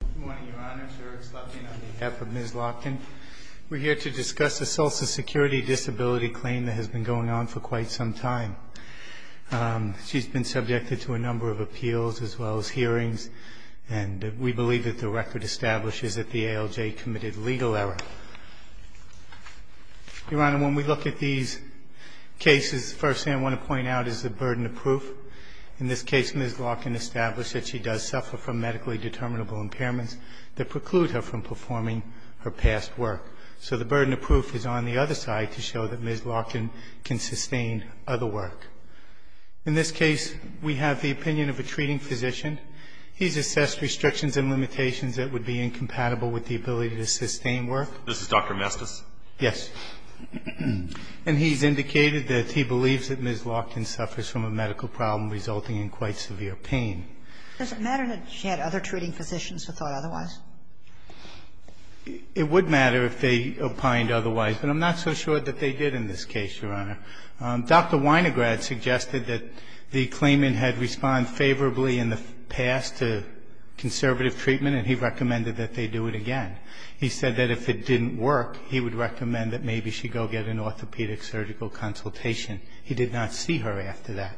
Good morning, Your Honor. It's Eric Slotkin on behalf of Ms. Larkin. We're here to discuss a social security disability claim that has been going on for quite some time. She's been subjected to a number of appeals as well as hearings, and we believe that the record establishes that the ALJ committed legal error. Your Honor, when we look at these cases, the first thing I want to point out is the burden of proof. In this case, Ms. Larkin established that she does suffer from medically determinable impairments that preclude her from performing her past work. So the burden of proof is on the other side to show that Ms. Larkin can sustain other work. In this case, we have the opinion of a treating physician. He's assessed restrictions and limitations that would be incompatible with the ability to sustain work. This is Dr. Mestis? Yes. And he's indicated that he believes that Ms. Larkin suffers from a medical problem resulting in quite severe pain. Does it matter that she had other treating physicians who thought otherwise? It would matter if they opined otherwise, but I'm not so sure that they did in this case, Your Honor. Dr. Weinegrad suggested that the claimant had responded favorably in the past to conservative treatment, and he recommended that they do it again. He said that if it didn't work, he would recommend that maybe she go get an orthopedic surgical consultation. He did not see her after that.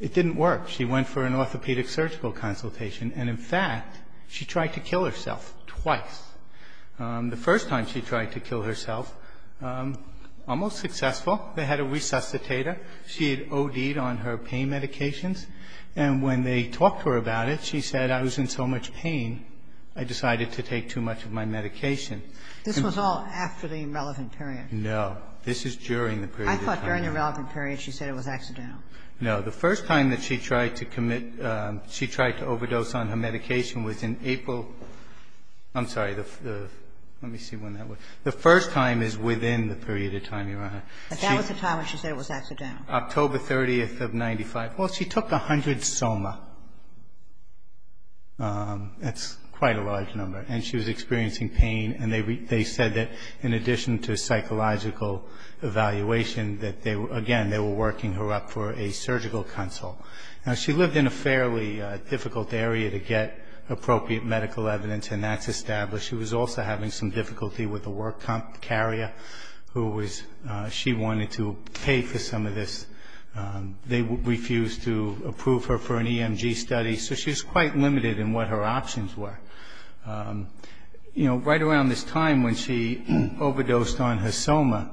It didn't work. She went for an orthopedic surgical consultation, and in fact, she tried to kill herself twice. The first time she tried to kill herself, almost successful. They had a resuscitator. She had OD'd on her pain medications, and when they talked to her about it, she said, I was in so much pain, I decided to take too much of my medication. This was all after the irrelevant period. No. This is during the period of time. I thought during the relevant period she said it was accidental. No. The first time that she tried to commit, she tried to overdose on her medication was in April. I'm sorry. Let me see when that was. The first time is within the period of time, Your Honor. But that was the time when she said it was accidental. October 30th of 1995. Well, she took 100 soma. That's quite a large number, and she was experiencing pain, and they said that in addition to psychological evaluation that they were, again, they were working her up for a surgical consult. Now, she lived in a fairly difficult area to get appropriate medical evidence, and that's established. She was also having some difficulty with a work carrier who was, she wanted to pay for some of this. They refused to approve her for an EMG study. So she was quite limited in what her options were. You know, right around this time when she overdosed on her soma,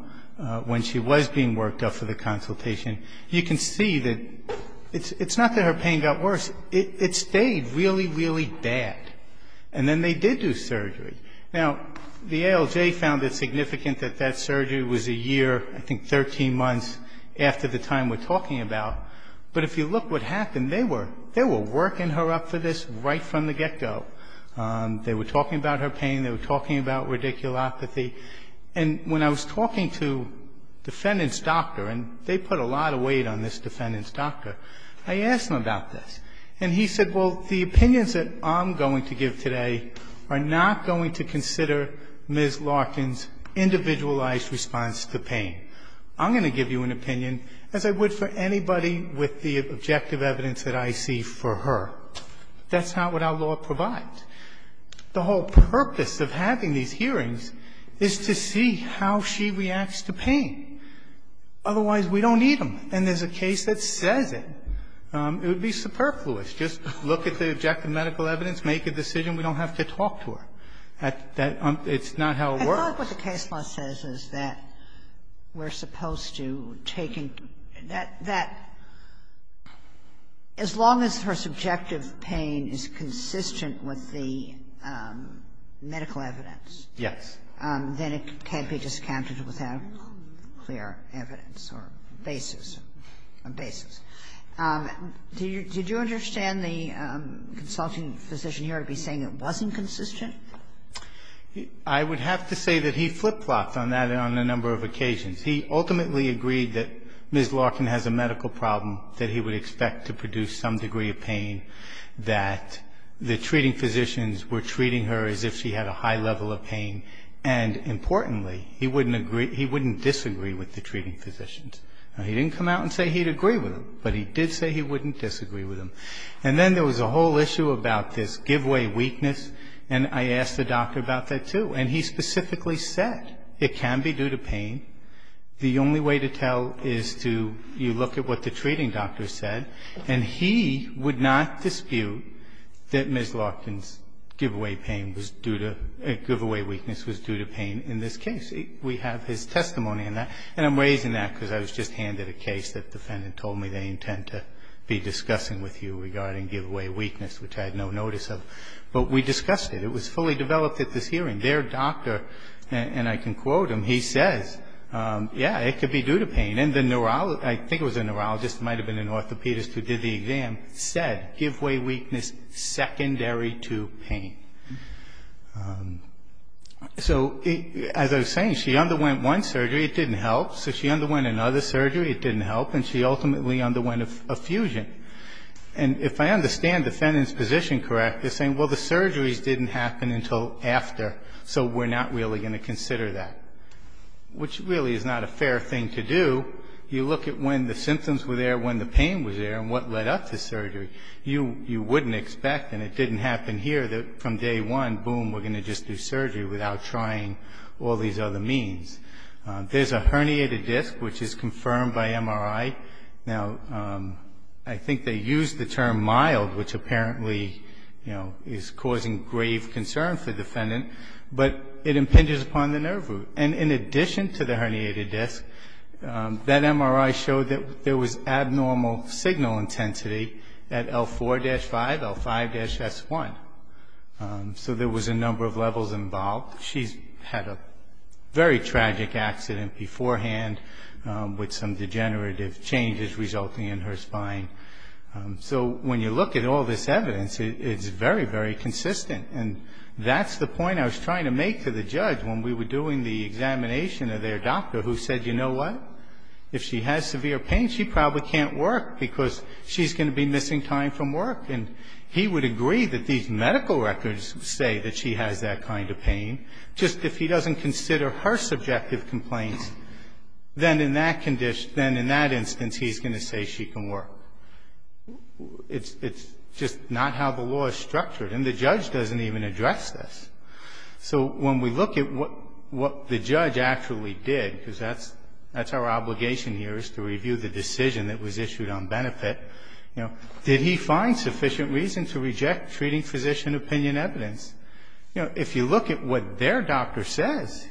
when she was being worked up for the consultation, you can see that it's not that her pain got worse. It stayed really, really bad. And then they did do surgery. Now, the ALJ found it significant that that surgery was a year, I think 13 months after the time we're talking about. But if you look what happened, they were working her up for this right from the get-go. They were talking about her pain. They were talking about radiculopathy. And when I was talking to defendant's doctor, and they put a lot of weight on this defendant's doctor, I asked him about this. And he said, well, the opinions that I'm going to give today are not going to consider Ms. Larkin's individualized response to pain. I'm going to give you an opinion, as I would for anybody with the objective evidence that I see for her. That's not what our law provides. The whole purpose of having these hearings is to see how she reacts to pain. Otherwise, we don't need them. And there's a case that says it. It would be superfluous. Just look at the objective medical evidence, make a decision. We don't have to talk to her. It's not how it works. Kagan. And I think what the case law says is that we're supposed to take that as long as her subjective pain is consistent with the medical evidence. Yes. Then it can't be discounted without clear evidence or basis, a basis. Did you understand the consulting physician here to be saying it wasn't consistent? I would have to say that he flip-flopped on that on a number of occasions. He ultimately agreed that Ms. Larkin has a medical problem that he would expect to produce some degree of pain, that the treating physicians were treating her as if she had a high level of pain, and importantly, he wouldn't agree he wouldn't disagree with the treating physicians. Now, he didn't come out and say he'd agree with them, but he did say he wouldn't disagree with them. And then there was a whole issue about this give-away weakness, and I asked the doctor about that, too. And he specifically said it can be due to pain. The only way to tell is to look at what the treating doctor said, and he would not dispute that Ms. Larkin's give-away pain was due to – give-away weakness was due to pain in this case. We have his testimony on that. And I'm raising that because I was just handed a case that the defendant told me they intend to be discussing with you regarding give-away weakness, which I had no notice of. But we discussed it. It was fully developed at this hearing. Their doctor – and I can quote him – he says, yeah, it could be due to pain. And the neurologist – I think it was a neurologist, it might have been an orthopedist who did the exam – said give-away weakness secondary to pain. So as I was saying, she underwent one surgery. It didn't help. So she underwent another surgery. It didn't help. And she ultimately underwent a fusion. And if I understand the defendant's position correctly, saying, well, the surgeries didn't happen until after, so we're not really going to consider that, which really is not a fair thing to do. You look at when the symptoms were there, when the pain was there, and what led up to surgery. You wouldn't expect, and it didn't happen here, that from day one, boom, we're going to just do surgery without trying all these other means. There's a herniated disc, which is confirmed by MRI. Now, I think they used the term mild, which apparently is causing grave concern for the defendant. But it impinges upon the nerve root. And in addition to the herniated disc, that MRI showed that there was abnormal signal intensity at L4-5, L5-S1. So there was a number of levels involved. She's had a very tragic accident beforehand with some degenerative changes resulting in her spine. So when you look at all this evidence, it's very, very consistent. And that's the point I was trying to make to the judge when we were doing the examination of their doctor, who said, you know what? If she has severe pain, she probably can't work, because she's going to be missing time from work. And he would agree that these medical records say that she has that kind of pain. Just if he doesn't consider her subjective complaints, then in that instance, he's going to say she can work. It's just not how the law is structured. And the judge doesn't even address this. So when we look at what the judge actually did, because that's our obligation here, is to review the decision that was issued on benefit, you know, did he find sufficient reason to reject treating physician opinion evidence? You know, if you look at what their doctor says,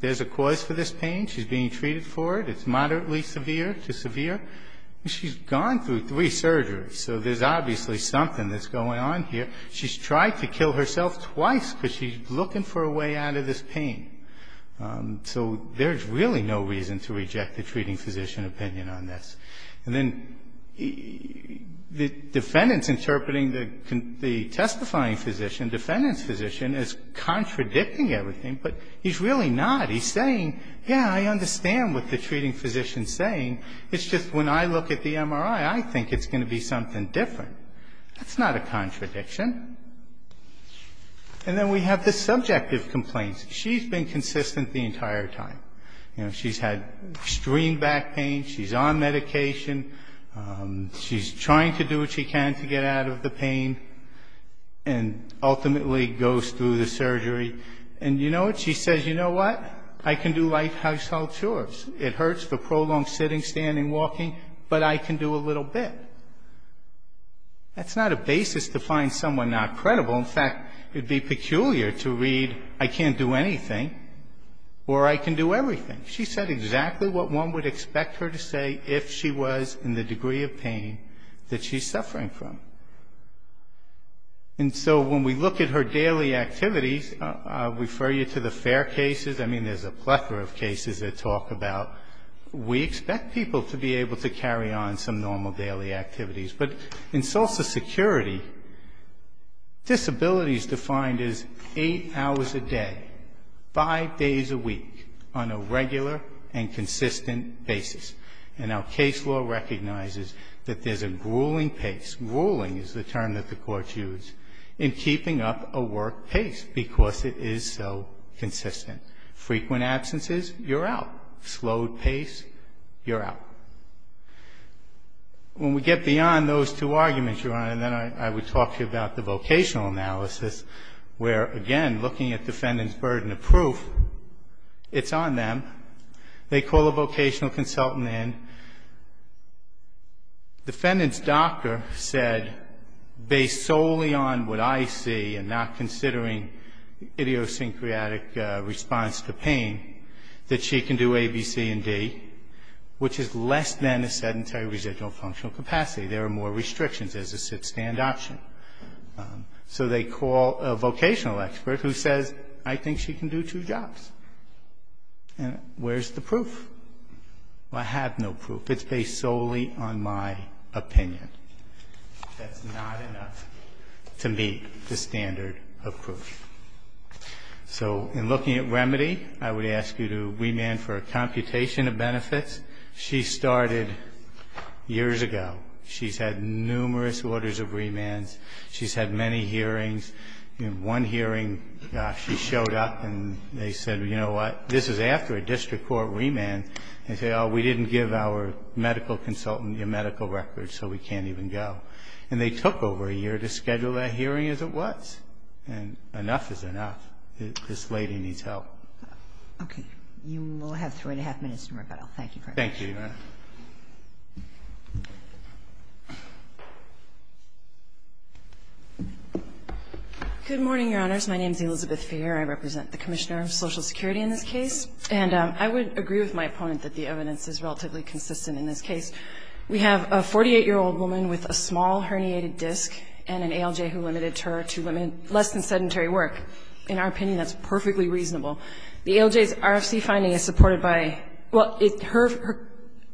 there's a cause for this pain. She's being treated for it. It's moderately severe to severe. She's gone through three surgeries. So there's obviously something that's going on here. She's tried to kill herself twice because she's looking for a way out of this pain. So there's really no reason to reject the treating physician opinion on this. And then the defendant's interpreting the testifying physician, defendant's physician, as contradicting everything, but he's really not. He's saying, yeah, I understand what the treating physician's saying. It's just when I look at the MRI, I think it's going to be something different. That's not a contradiction. And then we have the subjective complaints. She's been consistent the entire time. You know, she's had extreme back pain. She's on medication. She's trying to do what she can to get out of the pain and ultimately goes through the surgery. And you know what? She says, you know what? I can do life household chores. It hurts for prolonged sitting, standing, walking, but I can do a little bit. That's not a basis to find someone not credible. In fact, it would be peculiar to read, I can't do anything, or I can do everything. She said exactly what one would expect her to say if she was in the degree of pain that she's suffering from. And so when we look at her daily activities, I'll refer you to the FAIR cases. I mean, there's a plethora of cases that talk about we expect people to be able to carry on some normal daily activities. But in social security, disability is defined as eight hours a day, five days a week, on a regular and consistent basis. And our case law recognizes that there's a grueling pace. Frequent absences, you're out. Slowed pace, you're out. When we get beyond those two arguments, Your Honor, then I would talk to you about the vocational analysis, where, again, looking at defendant's burden of proof, it's on them. They call a vocational consultant in. Defendant's doctor said, based solely on what I see and not considering idiosyncratic response to pain, that she can do A, B, C, and D, which is less than a sedentary residual functional capacity. There are more restrictions as a sit-stand option. So they call a vocational expert who says, I think she can do two jobs. And where's the proof? Well, I have no proof. It's based solely on my opinion. That's not enough to meet the standard of proof. So in looking at remedy, I would ask you to remand for a computation of benefits. She started years ago. She's had numerous orders of remands. She's had many hearings. In one hearing, she showed up and they said, you know what, this is after a district court remand. They said, oh, we didn't give our medical consultant your medical records, so we can't even go. And they took over a year to schedule that hearing as it was. And enough is enough. This lady needs help. Okay. You will have three and a half minutes to rebuttal. Thank you, Your Honor. Thank you, Your Honor. Good morning, Your Honors. My name is Elizabeth Feher. I represent the Commissioner of Social Security in this case. And I would agree with my opponent that the evidence is relatively consistent in this case. We have a 48-year-old woman with a small herniated disc and an ALJ who limited her to less than sedentary work. In our opinion, that's perfectly reasonable. The ALJ's RFC finding is supported by her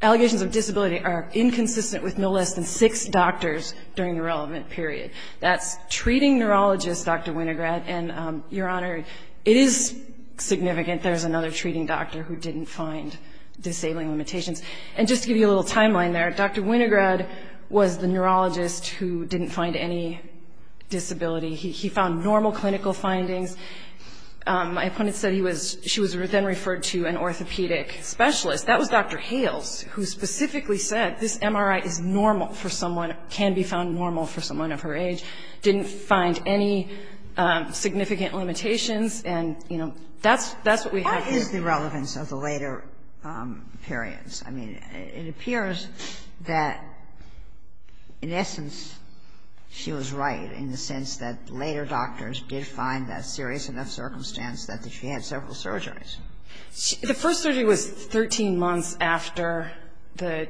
allegations of disability are inconsistent with no less than six doctors during the relevant period. That's treating neurologist Dr. Winograd. And, Your Honor, it is significant there's another treating doctor who didn't find disabling limitations. And just to give you a little timeline there, Dr. Winograd was the neurologist who didn't find any disability. He found normal clinical findings. My opponent said he was – she was then referred to an orthopedic specialist. That was Dr. Hales, who specifically said this MRI is normal for someone, can be found normal for someone of her age, didn't find any significant limitations. And, you know, that's what we have here. What is the relevance of the later periods? I mean, it appears that in essence she was right in the sense that later doctors did find that serious enough circumstance that she had several surgeries. The first surgery was 13 months after the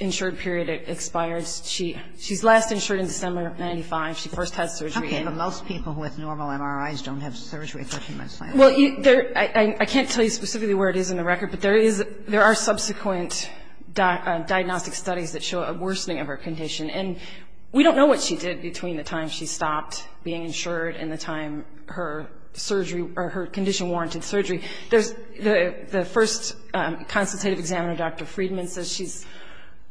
insured period expires. She's last insured in December of 1995. She first had surgery. How come most people with normal MRIs don't have surgery 13 months later? Well, I can't tell you specifically where it is in the record, but there are subsequent diagnostic studies that show a worsening of her condition. And we don't know what she did between the time she stopped being insured and the time her condition warranted surgery. The first consultative examiner, Dr. Friedman, says she's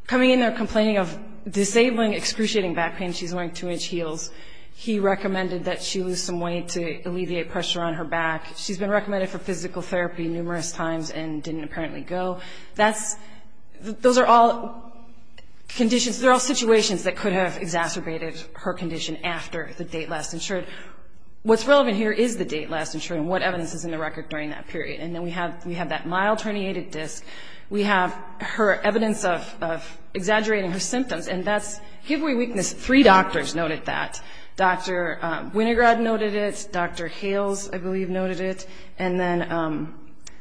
coming in there complaining of disabling, excruciating back pain. She's wearing two-inch heels. He recommended that she lose some weight to alleviate pressure on her back. She's been recommended for physical therapy numerous times and didn't apparently go. Those are all conditions, they're all situations that could have exacerbated her condition after the date last insured. What's relevant here is the date last insured and what evidence is in the record during that period. And then we have that mild herniated disc. We have her evidence of exaggerating her symptoms, and that's give way weakness. Three doctors noted that. Dr. Winograd noted it. Dr. Hales, I believe, noted it. And then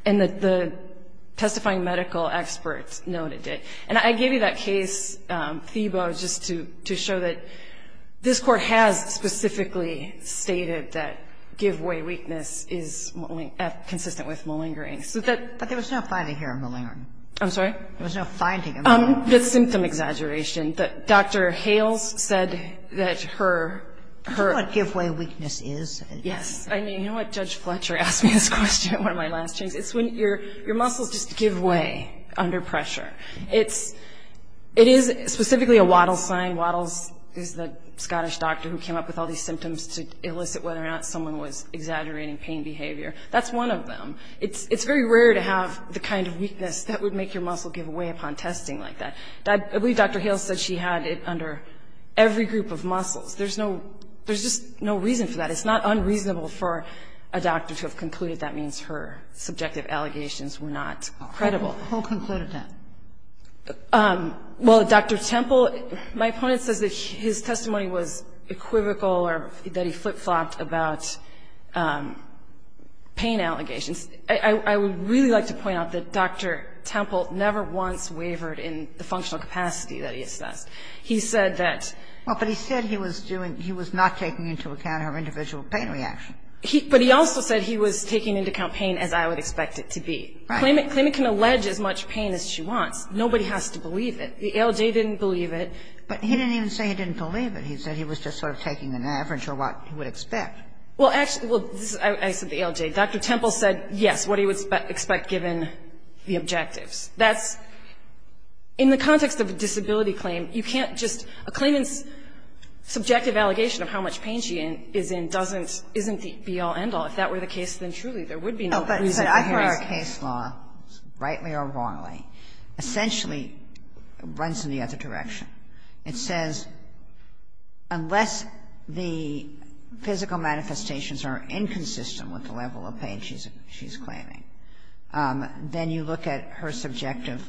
the testifying medical experts noted it. And I gave you that case, Thiebaud, just to show that this Court has specifically stated that give way weakness is consistent with malingering. But there was no finding here of malingering. I'm sorry? There was no finding of malingering. The symptom exaggeration. Dr. Hales said that her – Do you know what give way weakness is? Yes. I mean, you know what? Judge Fletcher asked me this question at one of my last hearings. It's when your muscles just give way under pressure. It is specifically a Wattles sign. Wattles is the Scottish doctor who came up with all these symptoms to elicit whether or not someone was exaggerating pain behavior. That's one of them. It's very rare to have the kind of weakness that would make your muscle give way upon testing like that. I believe Dr. Hales said she had it under every group of muscles. There's no – there's just no reason for that. It's not unreasonable for a doctor to have concluded that means her subjective allegations were not credible. Who concluded that? Well, Dr. Temple, my opponent says that his testimony was equivocal or that he flip-flopped about pain allegations. I would really like to point out that Dr. Temple never once wavered in the functional capacity that he assessed. He said that – Well, but he said he was doing – he was not taking into account her individual pain reaction. But he also said he was taking into account pain as I would expect it to be. Right. Claimant can allege as much pain as she wants. Nobody has to believe it. The ALJ didn't believe it. But he didn't even say he didn't believe it. He said he was just sort of taking an average of what he would expect. Well, actually – well, this is – I said the ALJ. Dr. Temple said, yes, what he would expect given the objectives. That's – in the context of a disability claim, you can't just – a claimant's subjective allegation of how much pain she is in doesn't – isn't the be-all, end-all. If that were the case, then truly there would be no reason for the reason. But I think our case law, rightly or wrongly, essentially runs in the other direction. It says unless the physical manifestations are inconsistent with the level of pain she's claiming, then you look at her subjective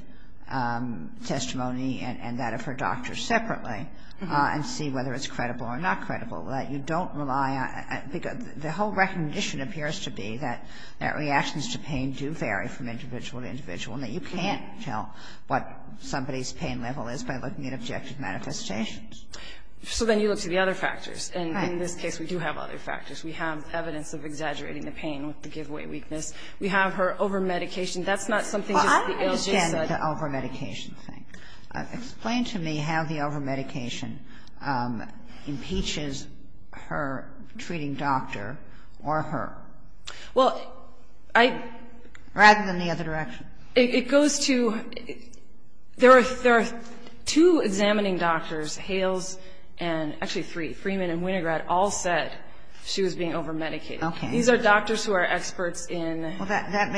testimony and that of her doctor separately and see whether it's credible or not credible. That you don't rely on – because the whole recognition appears to be that reactions to pain do vary from individual to individual and that you can't tell what somebody's pain level is by looking at objective manifestations. So then you look to the other factors. Right. And in this case, we do have other factors. We have evidence of exaggerating the pain with the giveaway weakness. We have her over-medication. That's not something just the ALJ said. Well, I understand the over-medication thing. Explain to me how the over-medication impeaches her treating doctor or her. Well, I – Rather than the other direction. It goes to – there are two examining doctors, Hales and actually three, Freeman and Winograd, all said she was being over-medicated. Okay. These are doctors who are experts in orthopedics. Well, that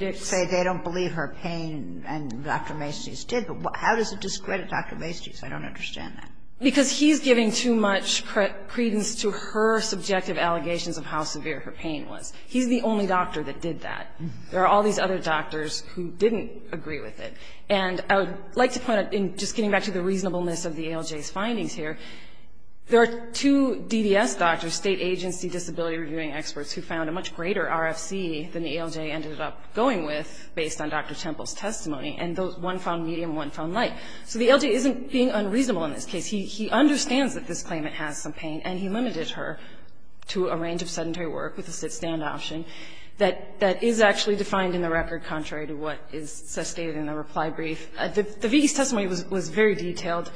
may say they don't believe her pain and Dr. Masties did, but how does it discredit Dr. Masties? I don't understand that. Because he's giving too much credence to her subjective allegations of how severe her pain was. He's the only doctor that did that. There are all these other doctors who didn't agree with it. And I would like to point out, just getting back to the reasonableness of the ALJ's findings here, there are two DDS doctors, State Agency Disability Reviewing Experts, who found a much greater RFC than the ALJ ended up going with based on Dr. Temple's testimony, and one found medium and one found light. So the ALJ isn't being unreasonable in this case. He understands that this claimant has some pain, and he limited her to a range of sedentary work with a sit-stand option that is actually defined in the record contrary to what is sustained in the reply brief. The V.E.'s testimony was very detailed.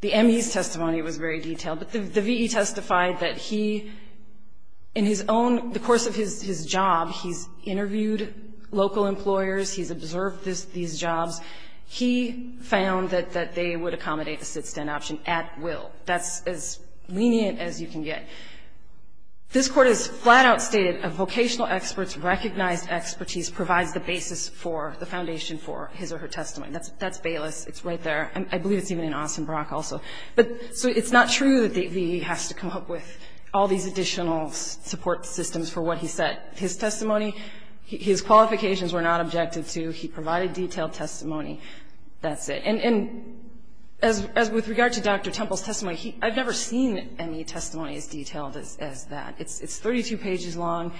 The M.E.'s testimony was very detailed. But the V.E. testified that he, in his own, the course of his job, he's interviewed local employers, he's observed these jobs. He found that they would accommodate a sit-stand option at will. That's as lenient as you can get. This Court has flat-out stated a vocational expert's recognized expertise provides the basis for, the foundation for his or her testimony. That's Bayless. It's right there. I believe it's even in Austin Brock also. So it's not true that the V.E. has to come up with all these additional support systems for what he said. His testimony, his qualifications were not objected to. He provided detailed testimony. That's it. And with regard to Dr. Temple's testimony, I've never seen M.E. testimony as detailed as that. It's 32 pages long.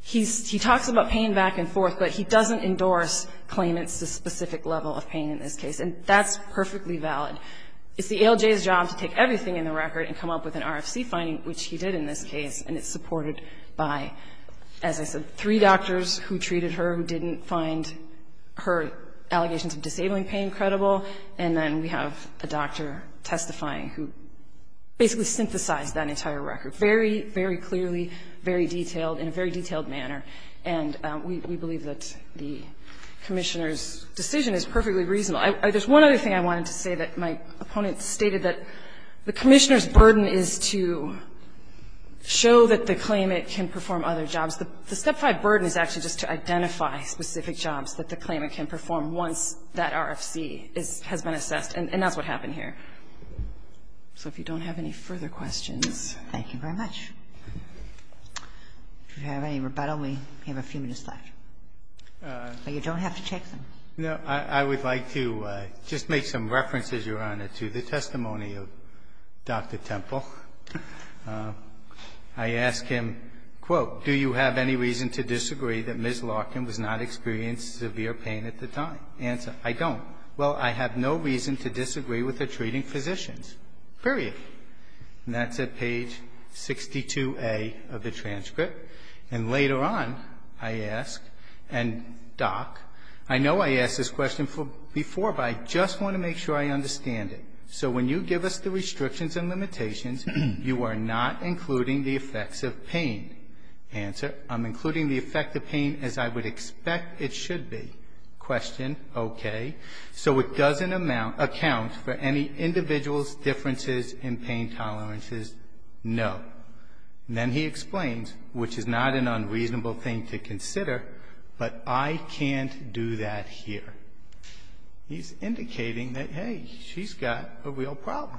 He talks about pain back and forth, but he doesn't endorse claimants to specific level of pain in this case. And that's perfectly valid. It's the ALJ's job to take everything in the record and come up with an RFC finding, which he did in this case, and it's supported by, as I said, three doctors who treated her who didn't find her allegations of And then we have a doctor testifying who basically synthesized that entire record, very, very clearly, very detailed, in a very detailed manner. And we believe that the Commissioner's decision is perfectly reasonable. There's one other thing I wanted to say that my opponent stated, that the Commissioner's burden is to show that the claimant can perform other jobs. The Step 5 burden is actually just to identify specific jobs that the claimant can perform once that RFC has been assessed. And that's what happened here. So if you don't have any further questions. Thank you very much. If you have any rebuttal, we have a few minutes left. But you don't have to take them. No, I would like to just make some references, Your Honor, to the testimony of Dr. Temple. I ask him, quote, Do you have any reason to disagree that Ms. Larkin was not experiencing severe pain at the time? Answer, I don't. Well, I have no reason to disagree with the treating physicians. Period. And that's at page 62A of the transcript. And later on, I ask, and, Doc, I know I asked this question before, but I just want to make sure I understand it. So when you give us the restrictions and limitations, you are not including the effects of pain. Answer, I'm including the effect of pain as I would expect it should be. Question, okay. So it doesn't account for any individual's differences in pain tolerances? No. Then he explains, which is not an unreasonable thing to consider, but I can't do that here. He's indicating that, hey, she's got a real problem.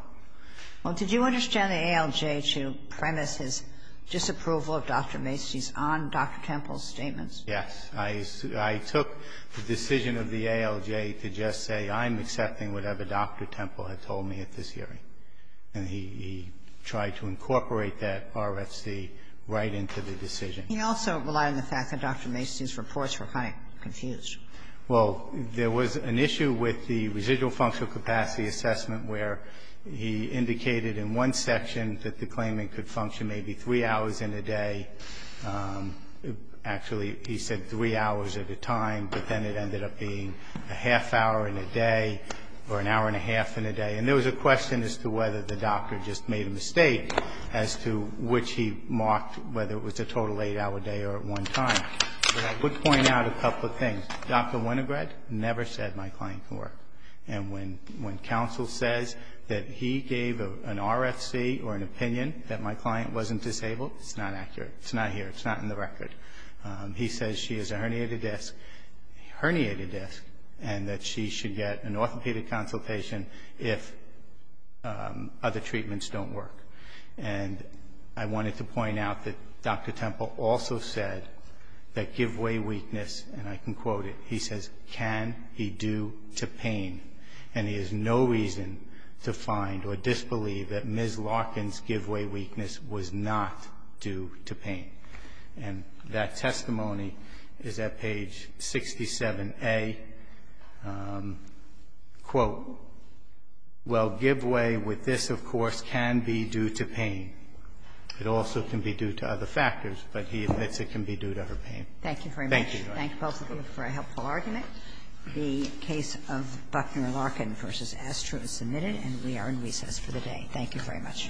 Well, did you understand the ALJ to premise his disapproval of Dr. Macy's on Dr. Temple's statements? Yes. I took the decision of the ALJ to just say I'm accepting whatever Dr. Temple had told me at this hearing. And he tried to incorporate that RFC right into the decision. He also relied on the fact that Dr. Macy's reports were kind of confused. Well, there was an issue with the residual functional capacity assessment, where he indicated in one section that the claimant could function maybe three hours in a day. Actually, he said three hours at a time, but then it ended up being a half hour in a day or an hour and a half in a day. And there was a question as to whether the doctor just made a mistake, as to which he marked whether it was a total eight-hour day or at one time. But I would point out a couple of things. Dr. Winograd never said my client can work. And when counsel says that he gave an RFC or an opinion that my client wasn't disabled, it's not accurate. It's not here. It's not in the record. He says she has a herniated disc and that she should get an orthopedic consultation if other treatments don't work. And I wanted to point out that Dr. Temple also said that give way weakness, and I can quote it, he says, can be due to pain, and he has no reason to find or disbelieve that Ms. Larkin's give way weakness was not due to pain. And that testimony is at page 67A. Quote, well, give way with this, of course, can be due to pain. It also can be due to other factors, but he admits it can be due to her pain. Thank you very much. Thank you both of you for a helpful argument. The case of Buckner-Larkin v. Astro is submitted, and we are in recess for the day. Thank you very much. Thank you very much.